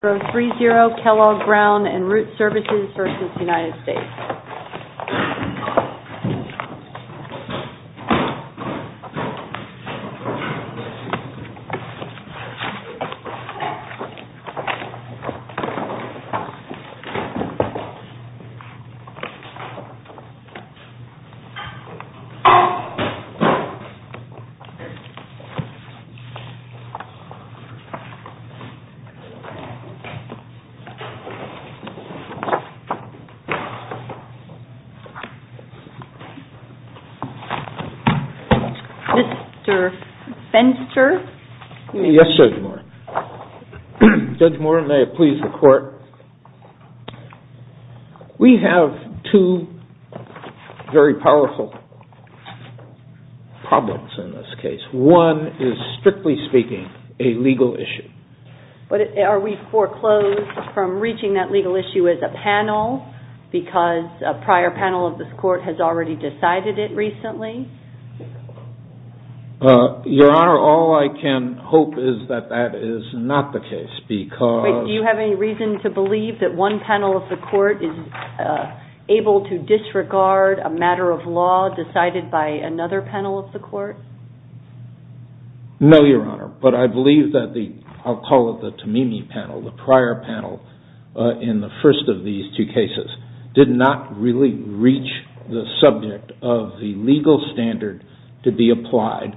for 3-0 Kellogg Brown and Root Services versus United States. Judge Moore, may it please the court. We have two very powerful problems in this case. One is, strictly speaking, a legal issue. Are we foreclosed from reaching that legal issue as a panel because a prior panel of this court has already decided it recently? Your Honor, all I can hope is that that is not the case because... Wait, do you have any reason to believe that one panel of the court is able to disregard a matter of law decided by another panel of the court? No, Your Honor, but I believe that the, I'll call it the Tamimi panel, the prior panel in the first of these two cases, did not really reach the subject of the legal standard to be applied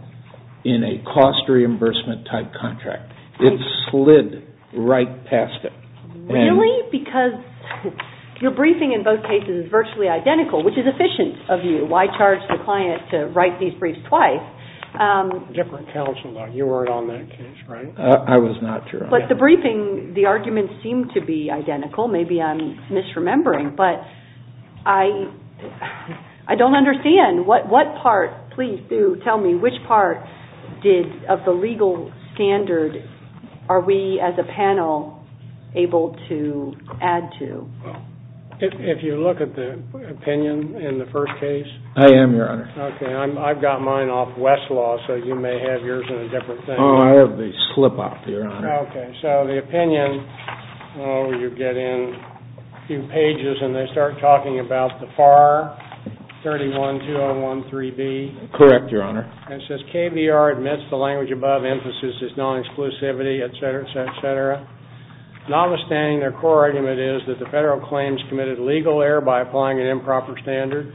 in a cost reimbursement type contract. It slid right past it. Really? Because your briefing in both cases is virtually identical, which is efficient of you. Why charge the client to write these briefs twice? Different counsel, though. You weren't on that case, right? I was not, Your Honor. But the briefing, the arguments seem to be identical. Maybe I'm misremembering, but I don't understand. What part, please do tell me, which part did, of the legal standard, are we as a panel able to add to? If you look at the opinion in the first case. I am, Your Honor. Okay. I've got mine off Westlaw, so you may have yours in a different thing. Oh, I have the slip-off, Your Honor. Okay. So the opinion, you get in a few pages and they start talking about the FAR 31-201-3-B. Correct, Your Honor. And it says KBR admits the language above emphasis is non-exclusivity, et cetera, et cetera. Notwithstanding, their core argument is that the federal claims committed legal error by applying an improper standard.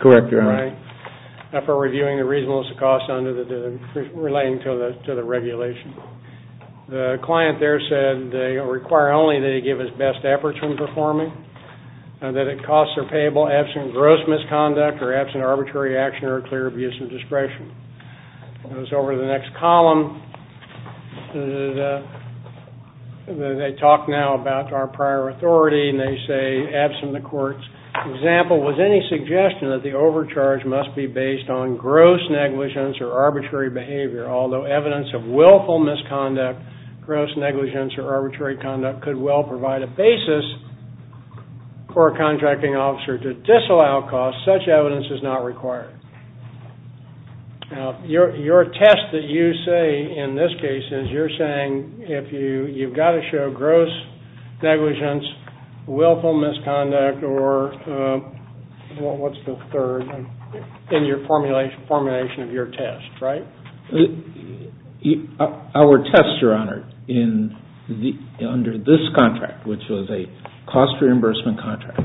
Correct, Your Honor. Right? After reviewing the reasonableness of costs under the, relating to the regulation. The client there said they require only that he give his best efforts when performing, that it costs are payable absent gross misconduct or absent arbitrary action or clear abuse of discretion. It goes over to the next column. They talk now about our prior authority and they say, absent the court's example, was any suggestion that the overcharge must be based on gross negligence or arbitrary behavior. Although evidence of willful misconduct, gross negligence or arbitrary conduct could well provide a basis for a contracting officer to disallow costs, such evidence is not required. Now, your test that you say in this case is you're saying if you've got to show gross negligence, willful misconduct or what's the third in your formulation of your test, right? Our test, Your Honor, under this contract, which was a cost reimbursement contract,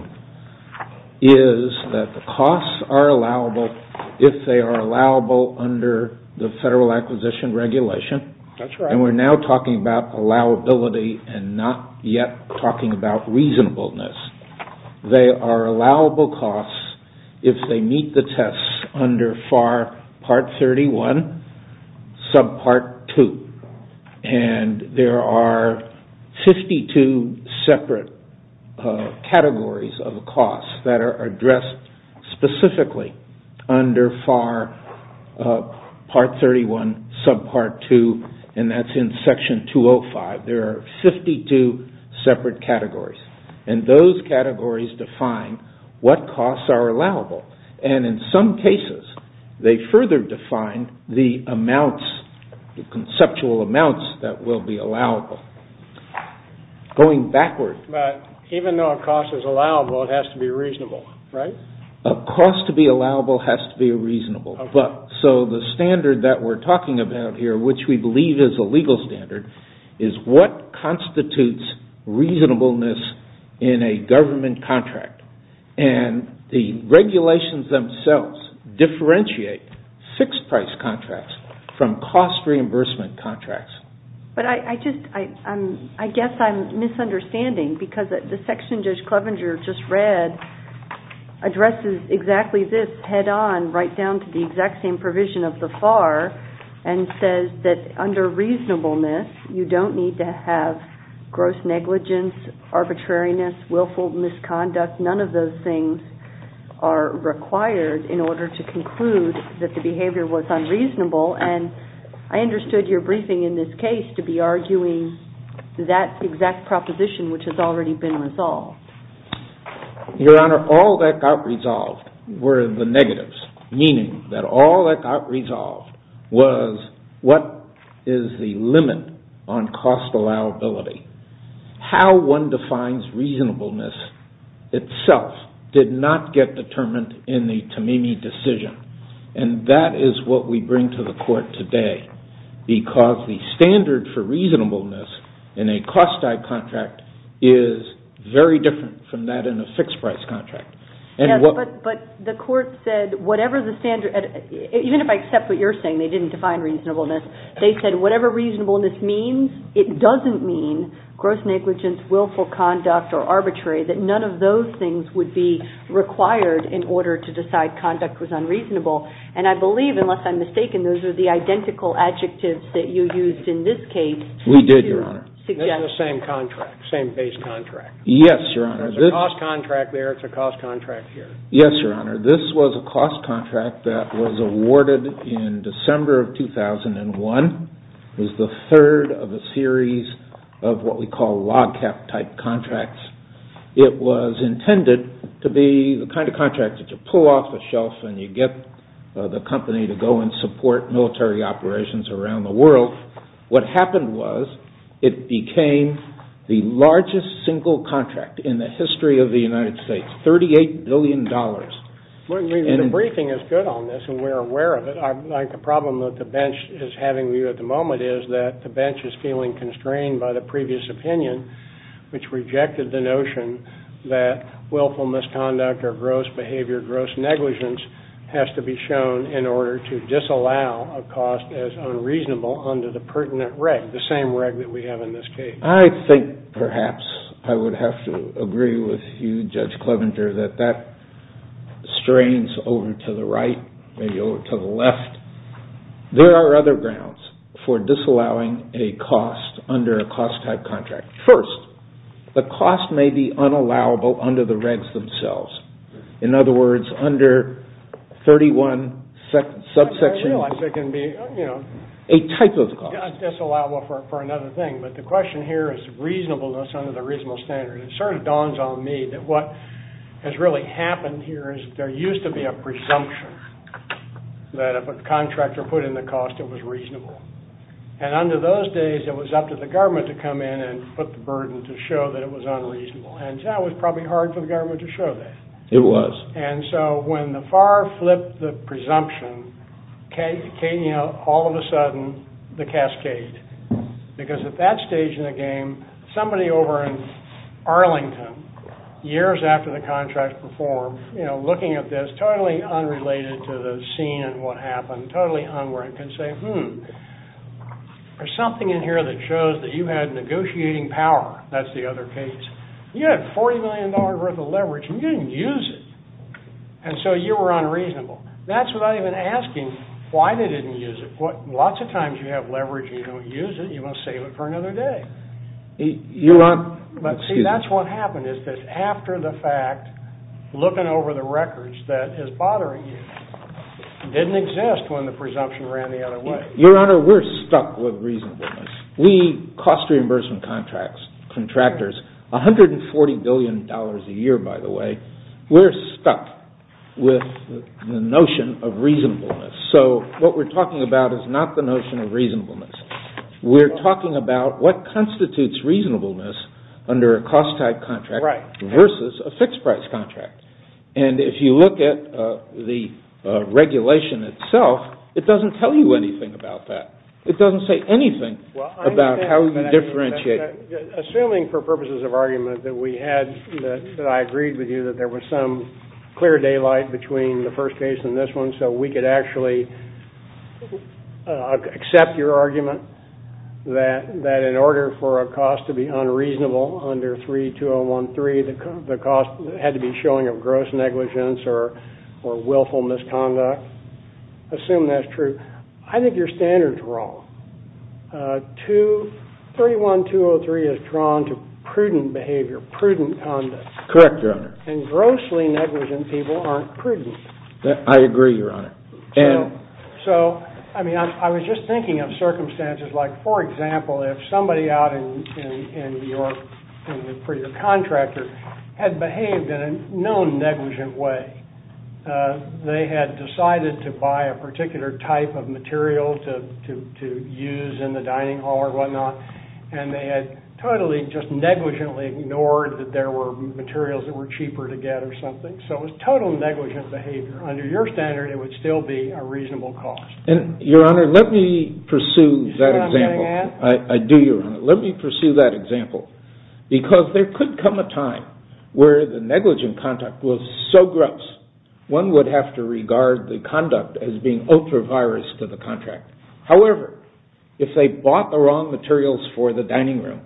is that the costs are allowable if they are allowable under the Federal Acquisition Regulation. That's right. And we're now talking about allowability and not yet talking about reasonableness. They are allowable costs if they meet the tests under FAR Part 31, Subpart 2. And there are 52 separate categories of costs that are addressed specifically under FAR Part 31, Subpart 2. And that's in Section 205. There are 52 separate categories. And those categories define what costs are allowable. And in some cases, they further define the amounts, the conceptual amounts that will be allowable. Going backward. But even though a cost is allowable, it has to be reasonable, right? A cost to be allowable has to be reasonable. So the standard that we're talking about here, which we believe is a legal standard, is what constitutes reasonableness in a government contract. And the regulations themselves differentiate fixed-price contracts from cost reimbursement contracts. But I guess I'm misunderstanding, because the section Judge Clevenger just read addresses exactly this head-on, right down to the exact same provision of the FAR, and says that under reasonableness, you don't need to have gross negligence, arbitrariness, willful misconduct. None of those things are required in order to conclude that the behavior was unreasonable. And I understood your briefing in this case to be arguing that exact proposition, which has already been resolved. Your Honor, all that got resolved were the negatives, meaning that all that got resolved was what is the limit on cost allowability. How one defines reasonableness itself did not get determined in the TAMIMI decision. And that is what we bring to the Court today, because the standard for reasonableness in a cost-type contract is very different from that in a fixed-price contract. But the Court said whatever the standard, even if I accept what you're saying, they didn't define reasonableness, they said whatever reasonableness means, it doesn't mean gross negligence, willful conduct, or arbitrary, that none of those things would be required in order to decide conduct was unreasonable. And I believe, unless I'm mistaken, those are the identical adjectives that you used in this case. We did, Your Honor. This is the same contract, same-phase contract. Yes, Your Honor. It's a cost contract there, it's a cost contract here. Yes, Your Honor. This was a cost contract that was awarded in December of 2001. It was the third of a series of what we call log-cap-type contracts. It was intended to be the kind of contract that you pull off the shelf and you get the company to go and support military operations around the world. What happened was it became the largest single contract in the history of the United States, $38 billion. The briefing is good on this, and we're aware of it. The problem that the bench is having with you at the moment is that the bench is feeling constrained by the previous opinion, which rejected the notion that willful misconduct or gross behavior, gross negligence, has to be shown in order to disallow a cost as unreasonable under the pertinent reg, the same reg that we have in this case. I think perhaps I would have to agree with you, Judge Clevenger, that that strains over to the right, maybe over to the left. There are other grounds for disallowing a cost under a cost-type contract. First, the cost may be unallowable under the regs themselves. In other words, under 31 subsections, a type of cost. That's allowable for another thing, but the question here is reasonableness under the reasonable standard. It sort of dawns on me that what has really happened here is there used to be a presumption that if a contractor put in the cost, it was reasonable. Under those days, it was up to the government to come in and put the burden to show that it was unreasonable. And that was probably hard for the government to show that. It was. And so when the FAR flipped the presumption, all of a sudden, the cascade. Because at that stage in the game, somebody over in Arlington, years after the contract was formed, looking at this, totally unrelated to the scene and what happened, totally unwarranted, can say, hmm, there's something in here that shows that you had negotiating power. That's the other case. You had $40 million worth of leverage and you didn't use it. And so you were unreasonable. That's without even asking why they didn't use it. Lots of times you have leverage and you don't use it. You want to save it for another day. But see, that's what happened is that after the fact, looking over the records, that is bothering you. It didn't exist when the presumption ran the other way. Your Honor, we're stuck with reasonableness. We cost reimbursement contractors $140 billion a year, by the way. We're stuck with the notion of reasonableness. So what we're talking about is not the notion of reasonableness. We're talking about what constitutes reasonableness under a cost-type contract versus a fixed-price contract. And if you look at the regulation itself, it doesn't tell you anything about that. It doesn't say anything about how you differentiate. Assuming for purposes of argument that we had, that I agreed with you, that there was some clear daylight between the first case and this one, so we could actually accept your argument that in order for a cost to be unreasonable under 32013, the cost had to be showing of gross negligence or willful misconduct, assume that's true. I think your standard is wrong. 31203 is drawn to prudent behavior, prudent conduct. Correct, Your Honor. And grossly negligent people aren't prudent. I agree, Your Honor. So, I mean, I was just thinking of circumstances like, for example, if somebody out in New York for your contractor had behaved in a known negligent way, they had decided to buy a particular type of material to use in the dining hall or whatnot, and they had totally just negligently ignored that there were materials that were cheaper to get or something. So it was total negligent behavior. Under your standard, it would still be a reasonable cost. Your Honor, let me pursue that example. I do, Your Honor. Because there could come a time where the negligent conduct was so gross, one would have to regard the conduct as being ultra-virus to the contract. However, if they bought the wrong materials for the dining room,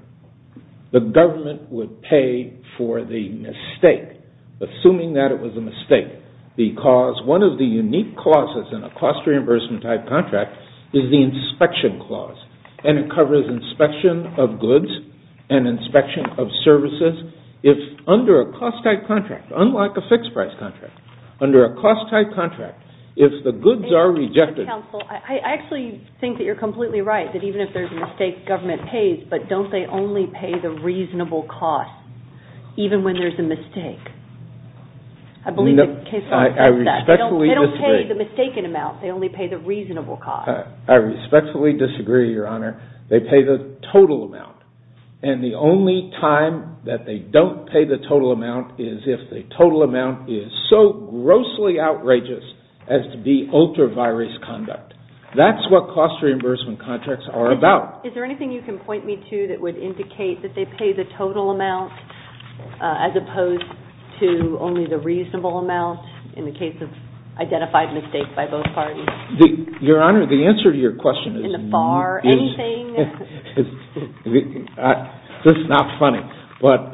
the government would pay for the mistake, assuming that it was a mistake, because one of the unique clauses in a cost reimbursement type contract is the inspection clause, and it covers inspection of goods and inspection of services. If under a cost type contract, unlike a fixed price contract, under a cost type contract, if the goods are rejected... Counsel, I actually think that you're completely right, that even if there's a mistake, government pays, but don't they only pay the reasonable cost, even when there's a mistake? I believe the case law says that. I respectfully disagree. They don't pay the mistaken amount. They only pay the reasonable cost. I respectfully disagree, Your Honor. They pay the total amount, and the only time that they don't pay the total amount is if the total amount is so grossly outrageous as to be ultra-virus conduct. That's what cost reimbursement contracts are about. Is there anything you can point me to that would indicate that they pay the total amount as opposed to only the reasonable amount in the case of identified mistakes by both parties? Your Honor, the answer to your question is... In the FAR, anything? This is not funny, but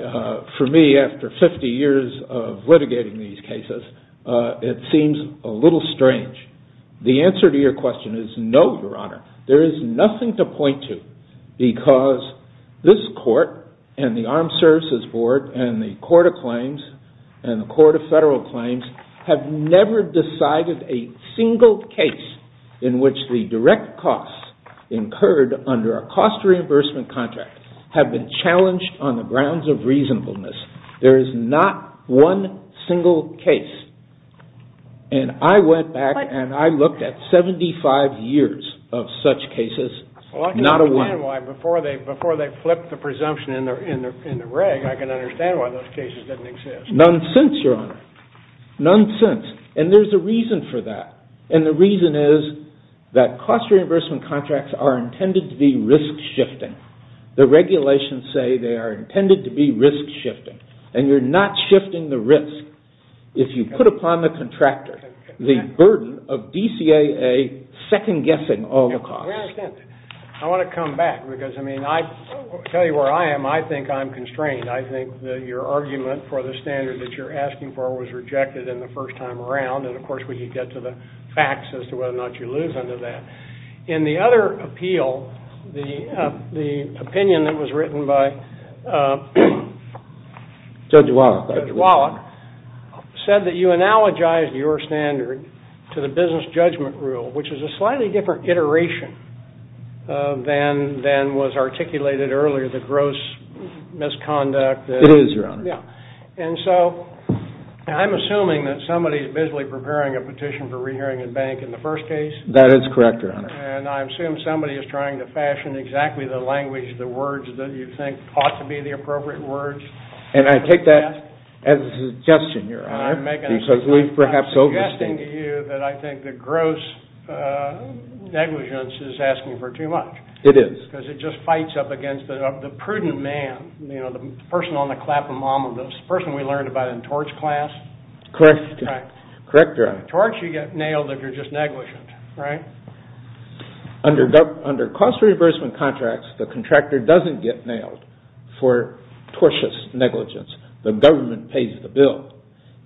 for me, after 50 years of litigating these cases, it seems a little strange. The answer to your question is no, Your Honor. There is nothing to point to because this Court and the Armed Services Board and the Court of Claims and the Court of Federal Claims have never decided a single case in which the direct costs incurred under a cost reimbursement contract have been challenged on the grounds of reasonableness. There is not one single case. And I went back and I looked at 75 years of such cases, not a one. Well, I can understand why before they flipped the presumption in the reg, Nonsense, Your Honor. Nonsense. And there's a reason for that. And the reason is that cost reimbursement contracts are intended to be risk-shifting. The regulations say they are intended to be risk-shifting. And you're not shifting the risk if you put upon the contractor the burden of DCAA second-guessing all the costs. I want to come back because, I mean, I tell you where I am, I think I'm constrained. I think that your argument for the standard that you're asking for was rejected in the first time around. And, of course, when you get to the facts as to whether or not you lose under that. In the other appeal, the opinion that was written by Judge Wallach said that you analogized your standard to the business judgment rule, which is a slightly different iteration than was articulated earlier, the gross misconduct. It is, Your Honor. Yeah. And so I'm assuming that somebody is busily preparing a petition for rehearing in bank in the first case. That is correct, Your Honor. And I assume somebody is trying to fashion exactly the language, the words that you think ought to be the appropriate words. And I take that as a suggestion, Your Honor. I'm making a suggestion. Because we've perhaps overstated. I'm suggesting to you that I think the gross negligence is asking for too much. It is. Because it just fights up against the prudent man, the person on the clap-a-mama, the person we learned about in torch class. Correct. Right. Correct, Your Honor. Torch, you get nailed if you're just negligent, right? Under cost reimbursement contracts, the contractor doesn't get nailed for tortuous negligence. The government pays the bill.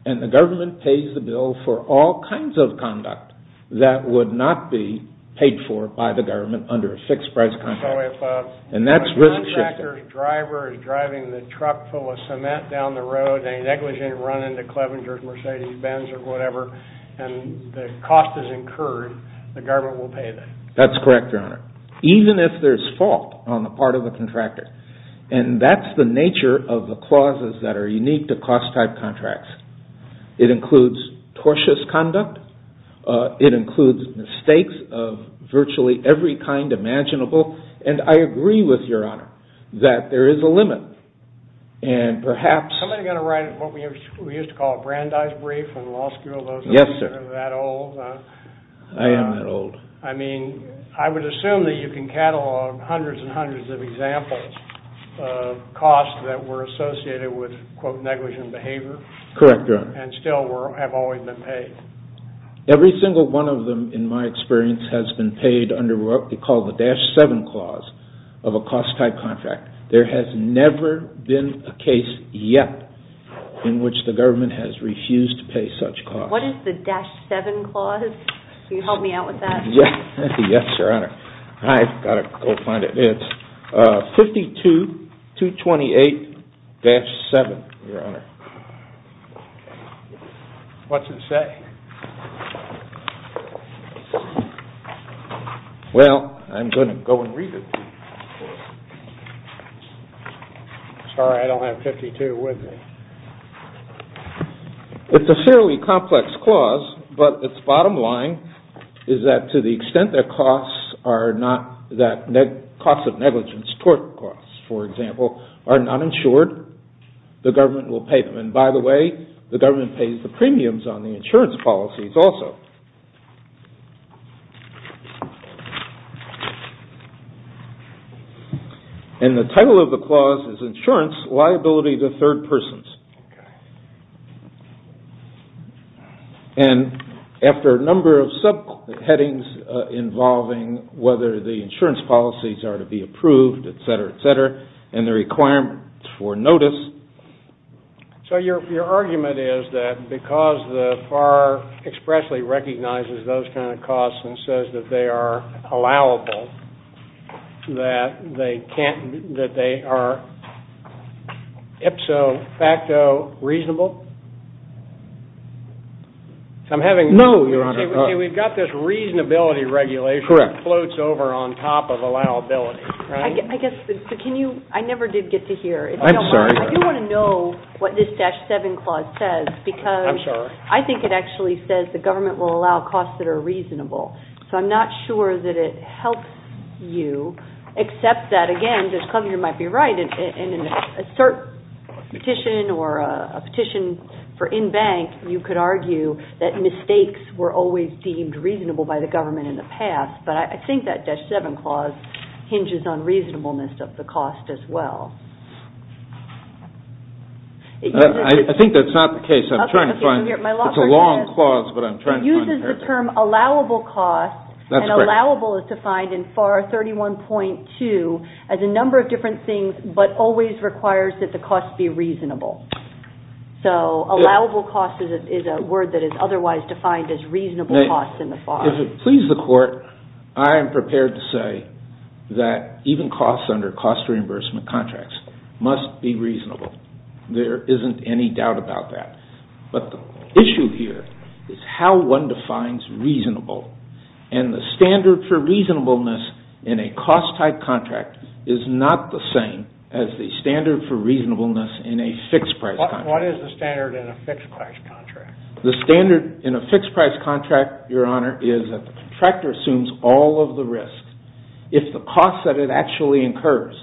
And the government pays the bill for all kinds of conduct that would not be paid for by the government under a fixed-price contract. And that's risk shifting. So if a contractor's driver is driving the truck full of cement down the road, they negligent run into Clevengers, Mercedes, Benz, or whatever, and the cost is incurred, the government will pay them. That's correct, Your Honor. Even if there's fault on the part of the contractor. And that's the nature of the clauses that are unique to cost-type contracts. It includes tortuous conduct. It includes mistakes of virtually every kind imaginable. And I agree with Your Honor that there is a limit. And perhaps... Somebody's got to write what we used to call a Brandeis brief in law school. Yes, sir. Those are that old. I am that old. I mean, I would assume that you can catalog hundreds and hundreds of examples of costs that were associated with, quote, negligent behavior. Correct, Your Honor. And still have always been paid. Every single one of them, in my experience, has been paid under what we call the Dash 7 Clause of a cost-type contract. There has never been a case yet in which the government has refused to pay such costs. What is the Dash 7 Clause? Can you help me out with that? Yes, Your Honor. I've got to go find it. It's 52-228-7, Your Honor. What's it say? Well, I'm going to go and read it. Sorry, I don't have 52 with me. It's a fairly complex clause, but its bottom line is that to the extent that costs of negligence, tort costs, for example, are not insured, the government will pay them. And by the way, the government pays the premiums on the insurance policies also. And the title of the clause is Insurance Liability to Third Persons. Okay. And after a number of subheadings involving whether the insurance policies are to be approved, et cetera, et cetera, and the requirements for notice. So your argument is that because the FAR expressly recognizes those kind of costs and says that they are allowable, that they are ipso facto reasonable? No, Your Honor. See, we've got this reasonability regulation that floats over on top of allowability, right? I never did get to hear. I'm sorry. I do want to know what this Dash 7 Clause says because I think it actually says the government will allow costs that are reasonable. So I'm not sure that it helps you except that, again, Judge Cogner might be right. In a cert petition or a petition for in bank, you could argue that mistakes were always deemed reasonable by the government in the past. But I think that Dash 7 Clause hinges on reasonableness of the cost as well. I think that's not the case. I'm trying to find. It's a long clause, but I'm trying to find it. It's the term allowable cost. That's correct. And allowable is defined in FAR 31.2 as a number of different things, but always requires that the cost be reasonable. So allowable cost is a word that is otherwise defined as reasonable cost in the FAR. If it pleases the Court, I am prepared to say that even costs under cost reimbursement contracts must be reasonable. There isn't any doubt about that. But the issue here is how one defines reasonable. And the standard for reasonableness in a cost-type contract is not the same as the standard for reasonableness in a fixed-price contract. What is the standard in a fixed-price contract? The standard in a fixed-price contract, Your Honor, is that the contractor assumes all of the risks. If the costs that it actually incurs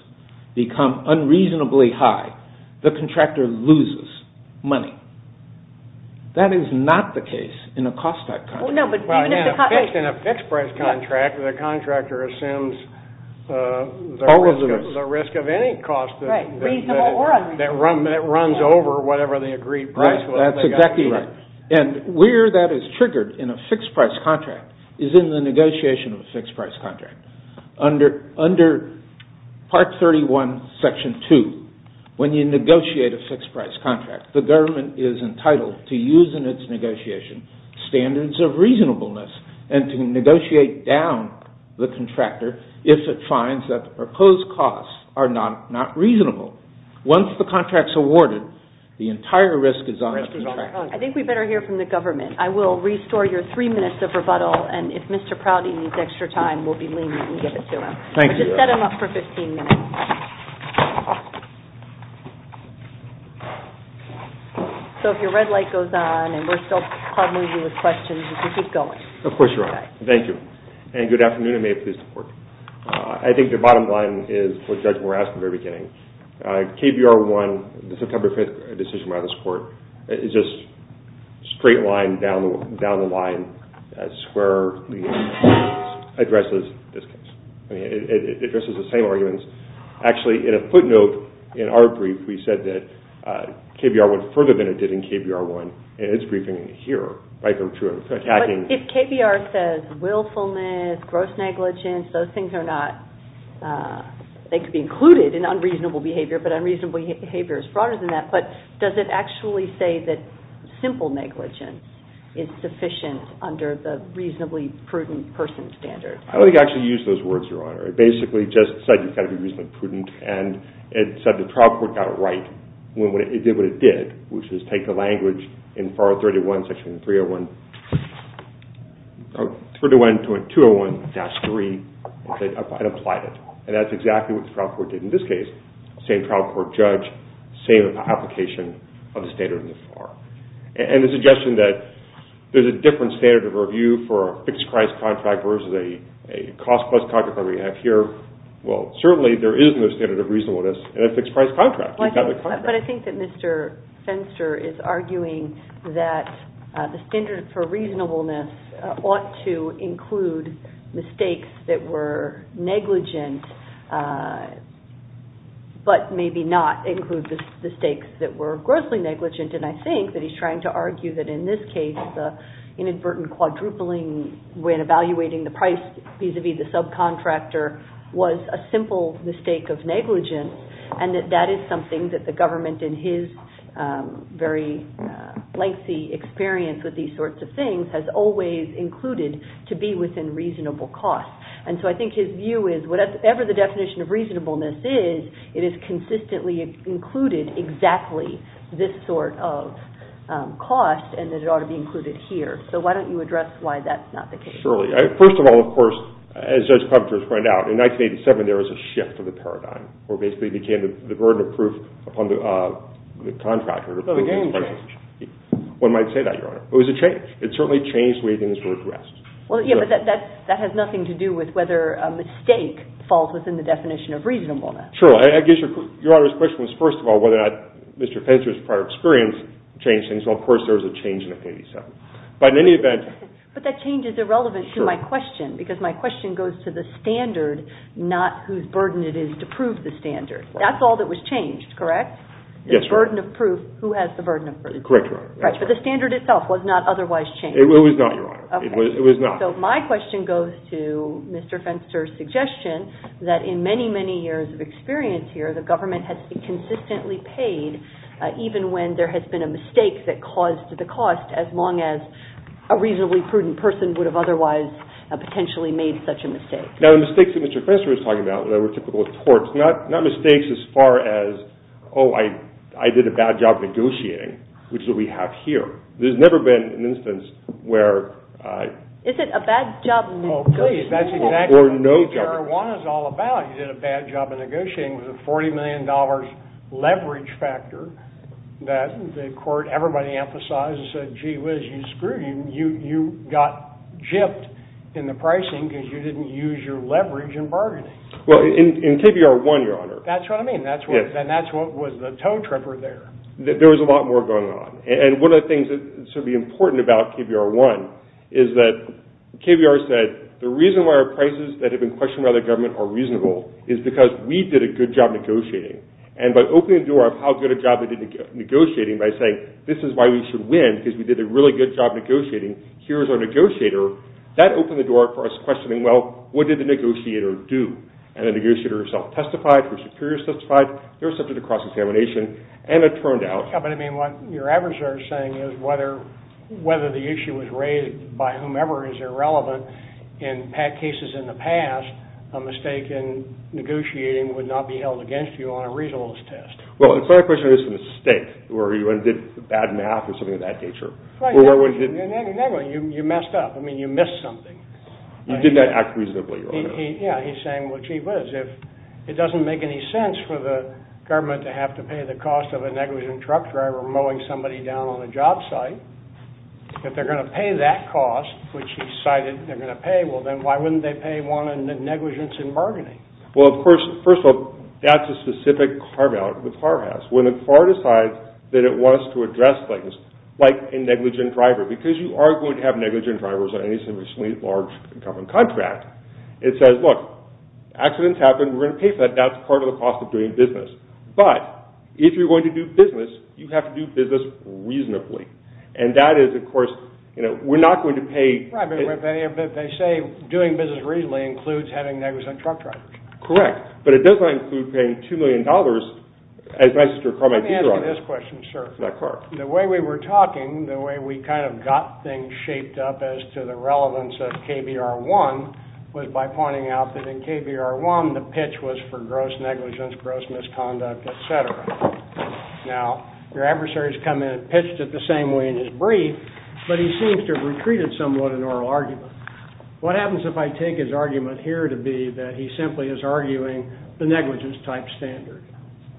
become unreasonably high, the contractor loses money. That is not the case in a cost-type contract. In a fixed-price contract, the contractor assumes the risk of any cost that runs over whatever the agreed price was. That's exactly right. And where that is triggered in a fixed-price contract is in the negotiation of a fixed-price contract. Under Part 31, Section 2, when you negotiate a fixed-price contract, the government is entitled to use in its negotiation standards of reasonableness and to negotiate down the contractor if it finds that the proposed costs are not reasonable. Once the contract is awarded, the entire risk is on the contractor. I think we'd better hear from the government. I will restore your three minutes of rebuttal, and if Mr. Prouty needs extra time, we'll be lenient and give it to him. Thank you, Your Honor. Just set him up for 15 minutes. So if your red light goes on and we're still hard-moving you with questions, you can keep going. Of course, Your Honor. Thank you. And good afternoon, and may it please the Court. I think the bottom line is what Judge Morales said at the very beginning. KBR 1, the September 5th decision by this Court, is just straight line down the line, squarely addresses this case. I mean, it addresses the same arguments. Actually, in a footnote in our brief, we said that KBR went further than it did in KBR 1 in its briefing here, right from the beginning. But if KBR says willfulness, gross negligence, those things are not – it's stated in unreasonable behavior, but unreasonable behavior is broader than that. But does it actually say that simple negligence is sufficient under the reasonably prudent person standard? I don't think it actually used those words, Your Honor. It basically just said you've got to be reasonably prudent, and it said the trial court got it right when it did what it did, which is take the language in FAR 31, section 301 – 301.201-3 and applied it. And that's exactly what the trial court did in this case. Same trial court judge, same application of the standard in FAR. And the suggestion that there's a different standard of review for a fixed-price contract versus a cost-plus contract like we have here, well, certainly there is no standard of reasonableness in a fixed-price contract. But I think that Mr. Fenster is arguing that the standard for reasonableness ought to include mistakes that were negligent, but maybe not include the mistakes that were grossly negligent. And I think that he's trying to argue that, in this case, the inadvertent quadrupling when evaluating the price vis-à-vis the subcontractor was a simple mistake of negligence, and that that is something that the government in his very lengthy experience with these sorts of things has always included to be within reasonable cost. And so I think his view is whatever the definition of reasonableness is, it is consistently included exactly this sort of cost, and that it ought to be included here. So why don't you address why that's not the case? Surely. First of all, of course, as Judge Coventry has pointed out, in 1987 there was a shift of the paradigm, where basically it became the burden of proof upon the contractor. One might say that, Your Honor. It was a change. It certainly changed the way things were addressed. Well, yeah, but that has nothing to do with whether a mistake falls within the definition of reasonableness. Sure. I guess Your Honor's question was, first of all, whether or not Mr. Fenster's prior experience changed things. Well, of course, there was a change in 1987. But in any event... But that change is irrelevant to my question, because my question goes to the standard, not whose burden it is to prove the standard. That's all that was changed, correct? Yes, Your Honor. The burden of proof, who has the burden of proof? Correct, Your Honor. But the standard itself was not otherwise changed. It was not, Your Honor. It was not. So my question goes to Mr. Fenster's suggestion that in many, many years of experience here, the government has consistently paid, even when there has been a mistake that caused the cost, as long as a reasonably prudent person would have otherwise potentially made such a mistake. Now, the mistakes that Mr. Fenster was talking about, that were typical of torts, not mistakes as far as, oh, I did a bad job negotiating, which is what we have here. There's never been an instance where... Is it a bad job negotiating? Oh, please, that's exactly what TBR-1 is all about. You did a bad job of negotiating with a $40 million leverage factor that the court, everybody emphasized and said, gee whiz, you screwed. You got jipped in the pricing because you didn't use your leverage in bargaining. Well, in KBR-1, Your Honor... That's what I mean. And that's what was the tow-tripper there. There was a lot more going on. And one of the things that should be important about KBR-1 is that KBR said, the reason why our prices that have been questioned by the government are reasonable is because we did a good job negotiating. And by opening the door of how good a job they did negotiating by saying, this is why we should win because we did a really good job negotiating, here's our negotiator, that opened the door for us questioning, well, what did the negotiator do? And the negotiator herself testified, her superiors testified, they were subject to cross-examination, and it turned out... Yeah, but I mean, what your adversary is saying is whether the issue was raised by whomever is irrelevant in cases in the past, a mistake in negotiating would not be held against you on a reasonableness test. Well, it's not a question of a mistake or you did bad math or something of that nature. Right. In any way, you messed up. I mean, you missed something. You did not act reasonably. Yeah, he's saying what he was. If it doesn't make any sense for the government to have to pay the cost of a negligent truck driver mowing somebody down on a job site, if they're going to pay that cost, which he cited they're going to pay, well, then why wouldn't they pay one negligence in bargaining? Well, first of all, that's a specific carve-out the FAR has. When the FAR decides that it wants to address things like a negligent driver, because you are going to have negligent drivers on any sufficiently large government contract, it says, look, accidents happen. We're going to pay for that. That's part of the cost of doing business. But if you're going to do business, you have to do business reasonably. And that is, of course, you know, we're not going to pay. Right, but they say doing business reasonably includes having negligent truck drivers. Correct, but it does not include paying $2 million as nice as your car might be driving. Let me ask you this question, sir. That car. The way we were talking, the way we kind of got things shaped up as to the relevance of KBR 1 was by pointing out that in KBR 1, the pitch was for gross negligence, gross misconduct, et cetera. Now, your adversary's come in and pitched it the same way in his brief, but he seems to have retreated somewhat in oral argument. What happens if I take his argument here to be that he simply is arguing the negligence-type standard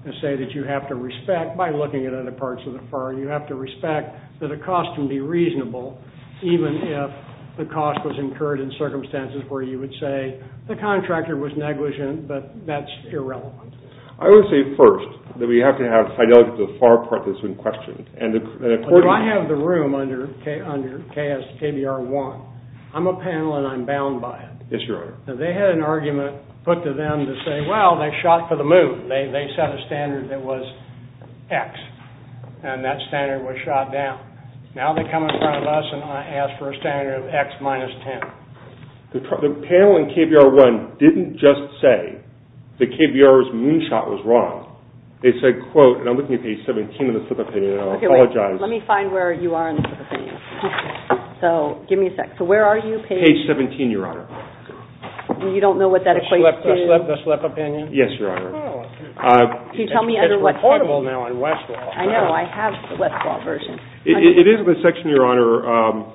and say that you have to respect, by looking at other parts of the FAR, you have to respect that a cost can be reasonable even if the cost was incurred in circumstances where you would say the contractor was negligent, but that's irrelevant? I would say first that we have to have fidelity to the FAR part that's been questioned. But if I have the room under KBR 1, I'm a panel and I'm bound by it. Yes, Your Honor. Now, they had an argument put to them to say, well, they shot for the moon. They set a standard that was X, and that standard was shot down. Now they come in front of us and ask for a standard of X minus 10. The panel in KBR 1 didn't just say that KBR's moonshot was wrong. They said, quote, and I'm looking at page 17 of the slip opinion, and I apologize. Let me find where you are in the slip opinion. So, give me a sec. So, where are you, page? Page 17, Your Honor. You don't know what that equates to? The slip opinion? Yes, Your Honor. Can you tell me under what standard? It's portable now on Westlaw. I know, I have the Westlaw version. It is the section, Your Honor,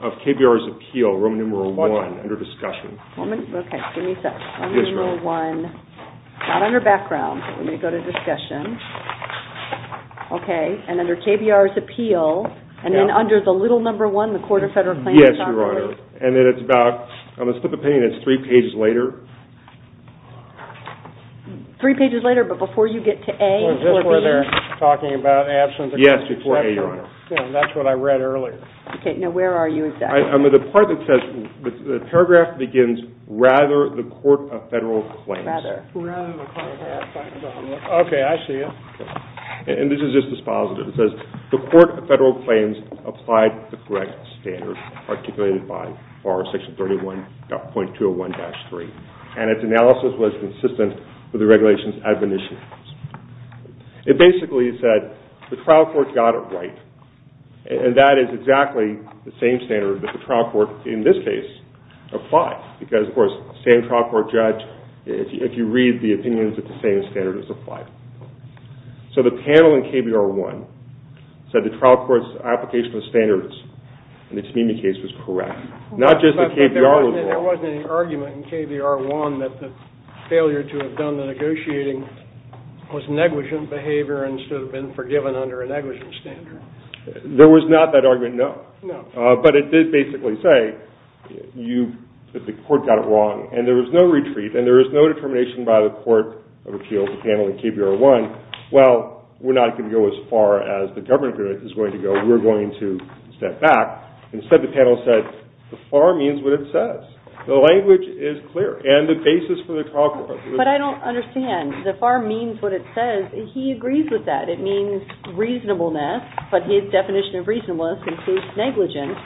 of KBR's appeal, room number 1, under discussion. Okay, give me a sec. Room number 1, not under background. Let me go to discussion. Okay, and under KBR's appeal, and then under the little number 1, the Court of Federal Claims? Yes, Your Honor. And then it's about, on the slip opinion, it's three pages later. Three pages later, but before you get to A? So, is this where they're talking about absence? Yes, before A, Your Honor. That's what I read earlier. Okay, now where are you exactly? I'm at the part that says, the paragraph begins, rather the Court of Federal Claims. Rather. Rather the Court of Federal Claims. Okay, I see it. And this is just dispositive. It says, the Court of Federal Claims applied the correct standard articulated by section 31.201-3, and its analysis was consistent with the regulation's admonitions. It basically said, the trial court got it right. And that is exactly the same standard that the trial court, in this case, applied. Because, of course, same trial court judge, if you read the opinions, it's the same standard that's applied. So the panel in KBR 1 said the trial court's application of standards in its Mimi case was correct. Not just the KBR one. There wasn't any argument in KBR 1 that the failure to have done the negotiating was negligent behavior and should have been forgiven under a negligent standard. There was not that argument, no. No. But it did basically say, the court got it wrong, and there was no retreat, and there was no determination by the Court of Appeals, the panel in KBR 1, well, we're not going to go as far as the government is going to go. We're going to step back. Instead the panel said, the far means what it says. The language is clear. And the basis for the trial court. But I don't understand. The far means what it says. He agrees with that. It means reasonableness, but his definition of reasonableness includes negligence.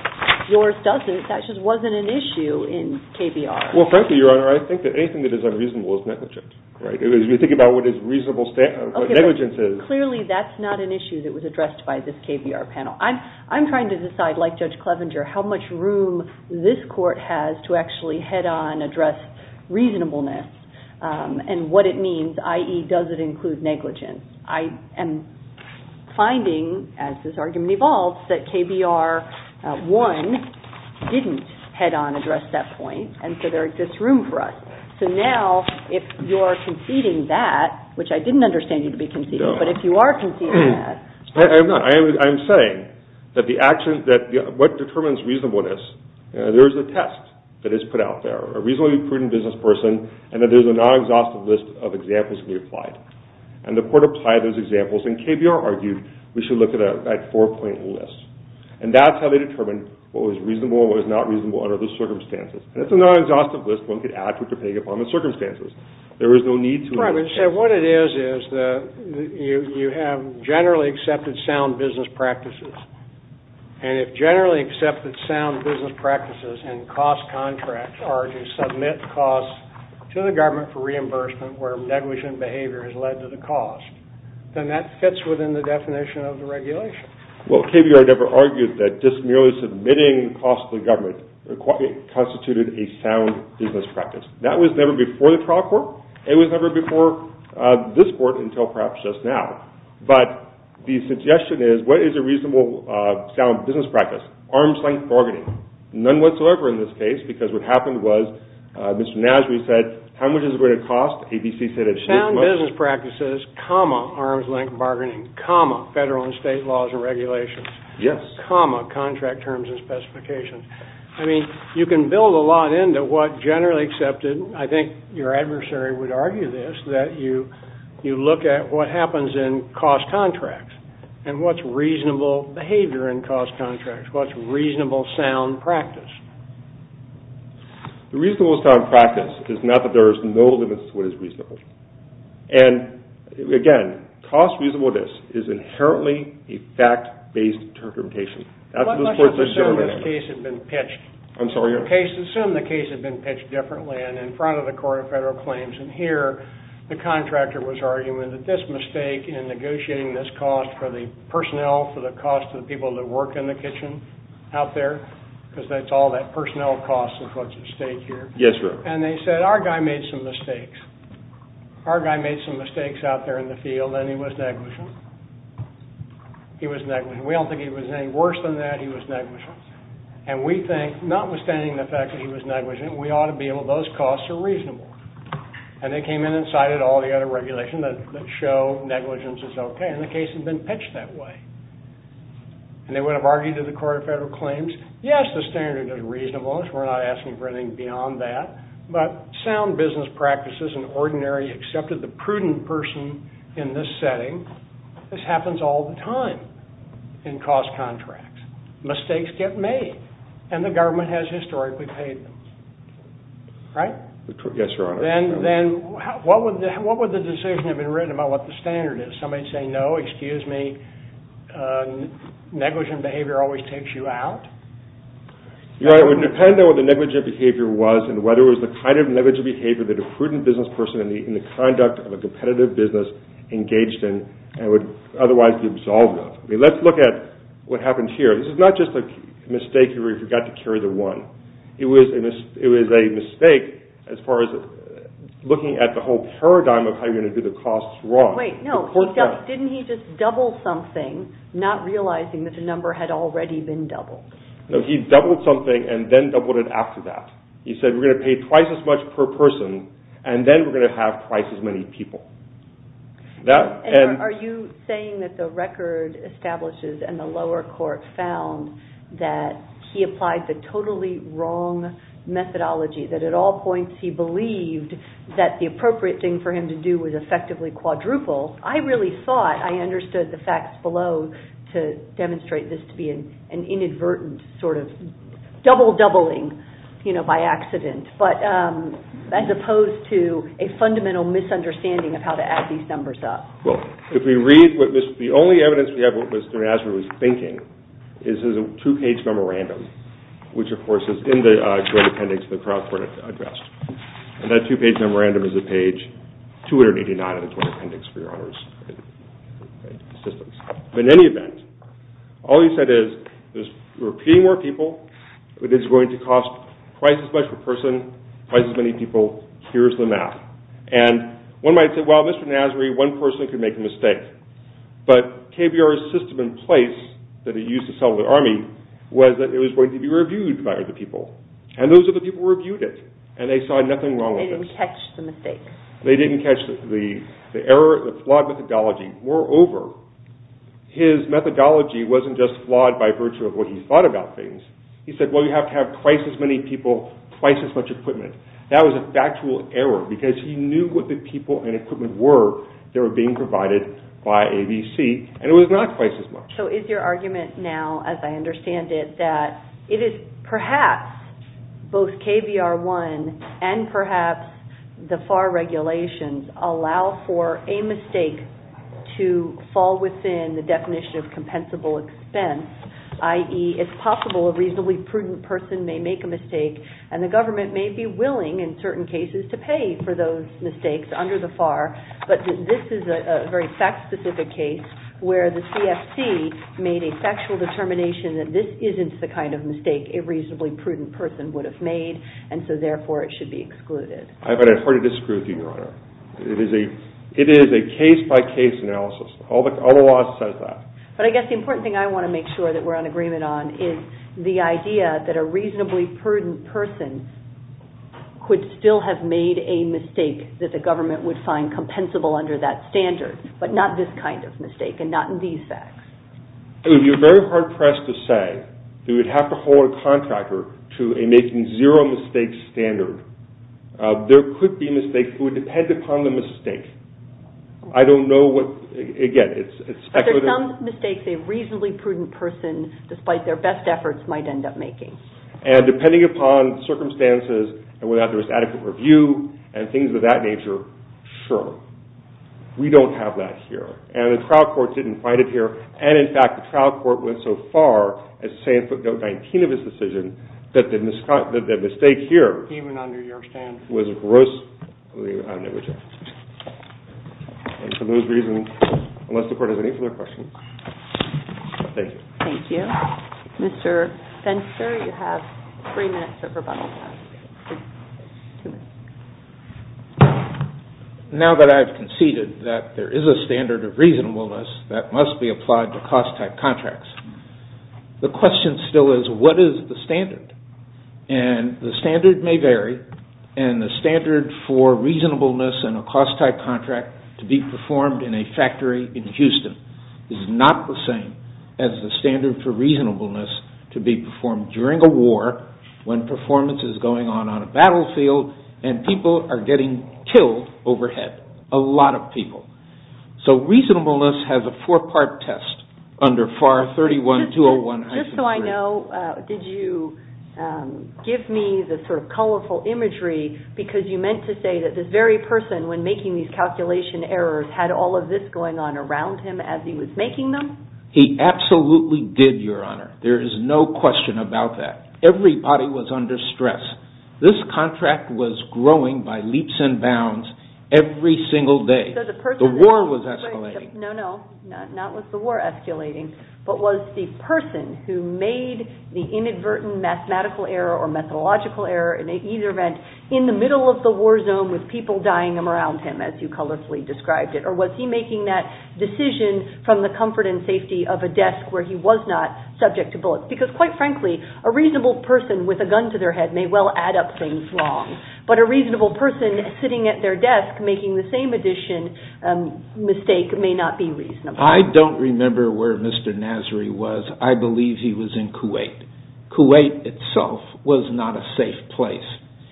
Yours doesn't. That just wasn't an issue in KBR. Well, frankly, Your Honor, I think that anything that is unreasonable is negligent. If you think about what negligence is. Clearly that's not an issue that was addressed by this KBR panel. I'm trying to decide, like Judge Clevenger, how much room this court has to actually head-on address reasonableness and what it means, i.e., does it include negligence. I am finding, as this argument evolves, that KBR 1 didn't head-on address that point, and so there exists room for us. So now if you're conceding that, which I didn't understand you to be conceding, but if you are conceding that. I'm not. I'm saying that what determines reasonableness, there is a test that is put out there, a reasonably prudent business person, and that there is a non-exhaustive list of examples to be applied. And the court applied those examples, and KBR argued we should look at a four-point list. And that's how they determined what was reasonable and what was not reasonable under those circumstances. And it's a non-exhaustive list. One could add to it depending upon the circumstances. There is no need to. Right. So what it is is you have generally accepted sound business practices, and if generally accepted sound business practices and cost contracts are to submit costs to the government for reimbursement where negligent behavior has led to the cost, then that fits within the definition of the regulation. Well, KBR never argued that just merely submitting costs to the government constituted a sound business practice. That was never before the trial court. It was never before this court until perhaps just now. But the suggestion is what is a reasonable sound business practice? Arms-length bargaining. None whatsoever in this case because what happened was Mr. Nasry said how much is it going to cost? ABC said it's this much. Sound business practices, comma, arms-length bargaining, comma, federal and state laws and regulations. Yes. Comma, contract terms and specifications. I mean, you can build a lot into what generally accepted, I think your adversary would argue this, that you look at what happens in cost contracts and what's reasonable behavior in cost contracts, what's reasonable sound practice. The reasonable sound practice is not that there is no limit to what is reasonable. And, again, cost reasonableness is inherently a fact-based determination. Let's assume this case had been pitched. I'm sorry? Assume the case had been pitched differently and in front of the court of federal claims and here the contractor was arguing that this mistake in negotiating this cost for the personnel, for the cost of the people that work in the kitchen out there, because that's all that personnel costs is what's at stake here. Yes, sir. And they said, our guy made some mistakes. Our guy made some mistakes out there in the field and he was negligent. He was negligent. We don't think he was any worse than that. He was negligent. And we think, notwithstanding the fact that he was negligent, we ought to be able, those costs are reasonable. And they came in and cited all the other regulations that show negligence is OK. And the case had been pitched that way. And they would have argued to the court of federal claims, yes, the standard is reasonable. We're not asking for anything beyond that. But sound business practices and ordinary accepted, the prudent person in this setting, this happens all the time in cost contracts. Mistakes get made. And the government has historically paid them. Right? Yes, Your Honor. Then what would the decision have been written about what the standard is? Somebody say, no, excuse me, negligent behavior always takes you out? It would depend on what the negligent behavior was and whether it was the kind of negligent behavior that a prudent business person in the conduct of a competitive business engaged in and would otherwise be absolved of. Let's look at what happened here. This is not just a mistake where you forgot to carry the one. It was a mistake as far as looking at the whole paradigm of how you're going to do the costs wrong. Wait, no. Didn't he just double something, not realizing that the number had already been doubled? No, he doubled something and then doubled it after that. He said we're going to pay twice as much per person and then we're going to have twice as many people. Are you saying that the record establishes and the lower court found that he applied the totally wrong methodology, that at all points he believed that the appropriate thing for him to do was effectively quadruple? I really thought I understood the facts below to demonstrate this to be an inadvertent sort of double-doubling by accident as opposed to a fundamental misunderstanding of how to add these numbers up. If we read, the only evidence we have of what Mr. Nasri was thinking is his two-page memorandum, which of course is in the Joint Appendix the Crown Court addressed. And that two-page memorandum is at page 289 of the Joint Appendix, for your honor's assistance. But in any event, all he said is we're paying more people, it is going to cost twice as much per person, twice as many people, here's the math. And one might say, well, Mr. Nasri, one person could make a mistake. But KBR's system in place that it used to sell to the army was that it was going to be reviewed by other people. And those other people reviewed it. And they saw nothing wrong with it. They didn't catch the mistake. They didn't catch the error, the flawed methodology. Moreover, his methodology wasn't just flawed by virtue of what he thought about things. He said, well, you have to have twice as many people, twice as much equipment. That was a factual error because he knew what the people and equipment were that were being provided by ABC. And it was not twice as much. So is your argument now, as I understand it, that it is perhaps both KBR 1 and perhaps the FAR regulations allow for a mistake to fall within the definition of compensable expense, i.e., it's possible a reasonably prudent person may make a mistake, and the government may be willing in certain cases to pay for those mistakes under the FAR, but this is a very fact-specific case where the CFC made a factual determination that this isn't the kind of mistake a reasonably prudent person would have made, and so therefore it should be excluded. I'm going to have to disagree with you, Your Honor. It is a case-by-case analysis. All the law says that. But I guess the important thing I want to make sure that we're in agreement on is the idea that a reasonably prudent person could still have made a mistake that the government would find compensable under that standard, but not this kind of mistake and not in these facts. You're very hard-pressed to say that we'd have to hold a contractor to a making zero mistakes standard. There could be mistakes. It would depend upon the mistake. I don't know what, again, it's speculative. But there are some mistakes a reasonably prudent person, despite their best efforts, might end up making. And depending upon circumstances and whether there was adequate review and things of that nature, sure. We don't have that here. And the trial court didn't find it here. And, in fact, the trial court went so far as to say in footnote 19 of its decision that the mistake here was grossly underrejected. And for those reasons, unless the court has any further questions, thank you. Thank you. Mr. Spencer, you have three minutes Now that I've conceded that there is a standard of reasonableness that must be applied to cost-type contracts, the question still is, what is the standard? And the standard may vary. And the standard for reasonableness in a cost-type contract to be performed in a factory in Houston is not the same as the standard for reasonableness to be performed during a war when performance is going on on a battlefield and people are getting killed overhead. A lot of people. So reasonableness has a four-part test under FAR 31201-3. Just so I know, did you give me the sort of colorful imagery because you meant to say that this very person when making these calculation errors had all of this going on around him as he was making them? He absolutely did, Your Honor. There is no question about that. Everybody was under stress. This contract was growing by leaps and bounds every single day. The war was escalating. No, no. Not with the war escalating, but was the person who made the inadvertent mathematical error or methodological error in either event in the middle of the war zone with people dying around him as you colorfully described it, or was he making that decision from the comfort and safety of a desk where he was not subject to bullets? Because quite frankly, a reasonable person with a gun to their head may well add up things wrong. But a reasonable person sitting at their desk making the same addition mistake may not be reasonable. I don't remember where Mr. Nasri was. I believe he was in Kuwait. Kuwait itself was not a safe place.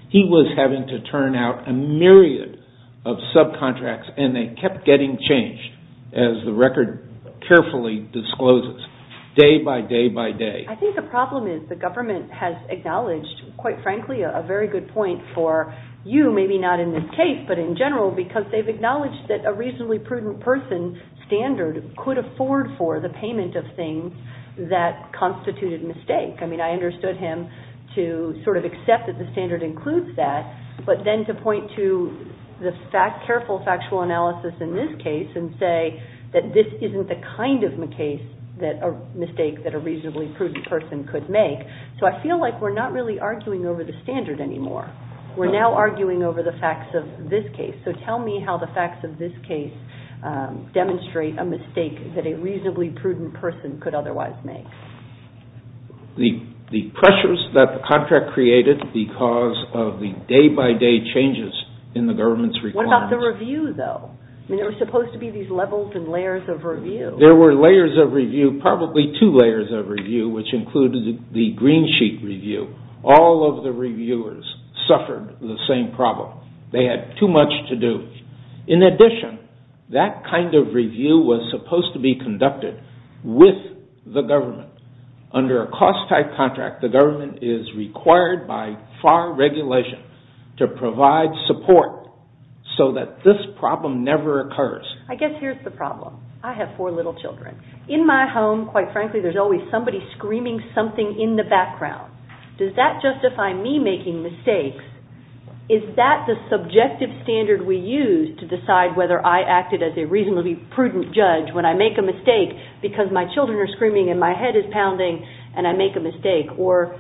He was having to turn out a myriad of subcontracts and they kept getting changed as the record carefully discloses day by day by day. I think the problem is the government has acknowledged, quite frankly, a very good point for you, maybe not in this case, but in general, because they've acknowledged that a reasonably prudent person standard could afford for the payment of things that constituted mistake. I mean, I understood him to sort of accept that the standard includes that, but then to point to the careful factual analysis in this case and say that this isn't the kind of mistake that a reasonably prudent person could make. So I feel like we're not really arguing over the standard anymore. We're now arguing over the facts of this case. So tell me how the facts of this case demonstrate a mistake that a reasonably prudent person could otherwise make. The pressures that the contract created because of the day by day changes in the government's requirements. What about the review, though? I mean, there were supposed to be these levels and layers of review. There were layers of review, probably two layers of review, which included the green sheet review. All of the reviewers suffered the same problem. They had too much to do. In addition, that kind of review was supposed to be conducted with the government. Under a cost type contract, the government is required by FAR regulation to provide support so that this problem never occurs. I guess here's the problem. I have four little children. In my home, quite frankly, there's always somebody screaming something in the background. Does that justify me making mistakes? Is that the subjective standard we use to decide whether I acted as a reasonably prudent judge when I make a mistake because my children are screaming and my head is pounding and I make a mistake? Or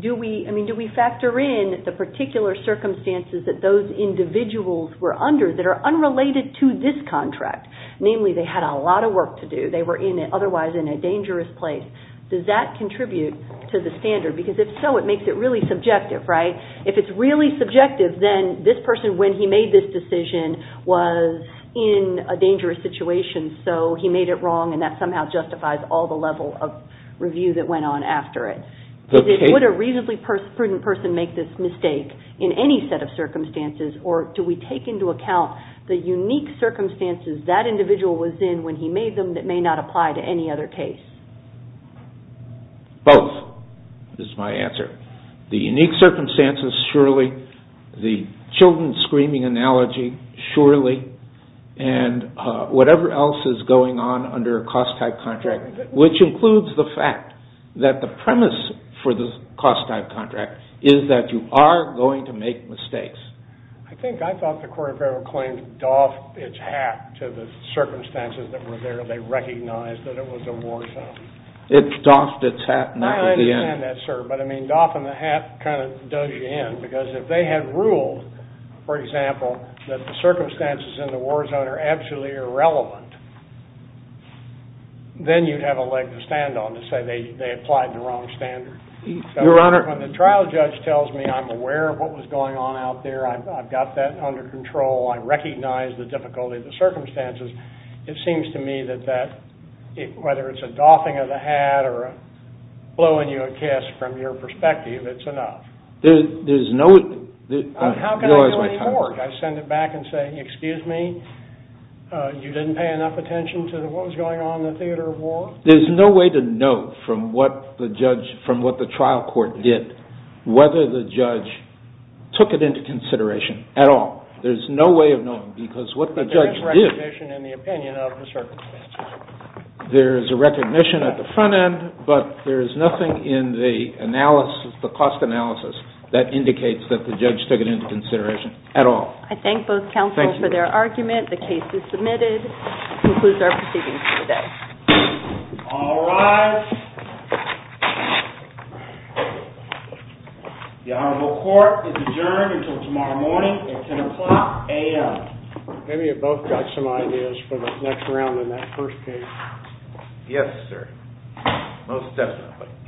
do we factor in the particular circumstances that those individuals were under that are unrelated to this contract? Namely, they had a lot of work to do. They were otherwise in a dangerous place. Does that contribute to the standard? Because if so, it makes it really subjective, right? If it's really subjective, then this person, when he made this decision, was in a dangerous situation, so he made it wrong, and that somehow justifies all the level of review that went on after it. Would a reasonably prudent person make this mistake in any set of circumstances? Or do we take into account the unique circumstances that individual was in when he made them and it may not apply to any other case? Both is my answer. The unique circumstances, surely. The children screaming analogy, surely. And whatever else is going on under a cost-type contract, which includes the fact that the premise for the cost-type contract is that you are going to make mistakes. I think I thought the court of federal claims doffed its hat to the circumstances that were there. They recognized that it was a war zone. It doffed its hat, not at the end. I understand that, sir, but I mean, doffing the hat kind of does you in because if they had ruled, for example, that the circumstances in the war zone are absolutely irrelevant, then you'd have a leg to stand on to say they applied the wrong standard. Your Honor. When the trial judge tells me I'm aware of what was going on out there, I've got that under control, I recognize the difficulty of the circumstances, it seems to me that that, whether it's a doffing of the hat or blowing you a kiss from your perspective, it's enough. There's no... How can I do any more? I send it back and say, excuse me, you didn't pay enough attention to what was going on in the theater of war? There's no way to know from what the trial court did whether the judge took it into consideration at all. There's no way of knowing because what the judge did... There's no recognition in the opinion of the circumstances. There's a recognition at the front end, but there's nothing in the analysis, the cost analysis, that indicates that the judge took it into consideration at all. I thank both counsel for their argument. The case is submitted. This concludes our proceedings for today. All rise. The Honorable Court is adjourned until tomorrow morning at 10 o'clock a.m. Maybe you both got some ideas for the next round in that first case. Yes, sir. Most definitely.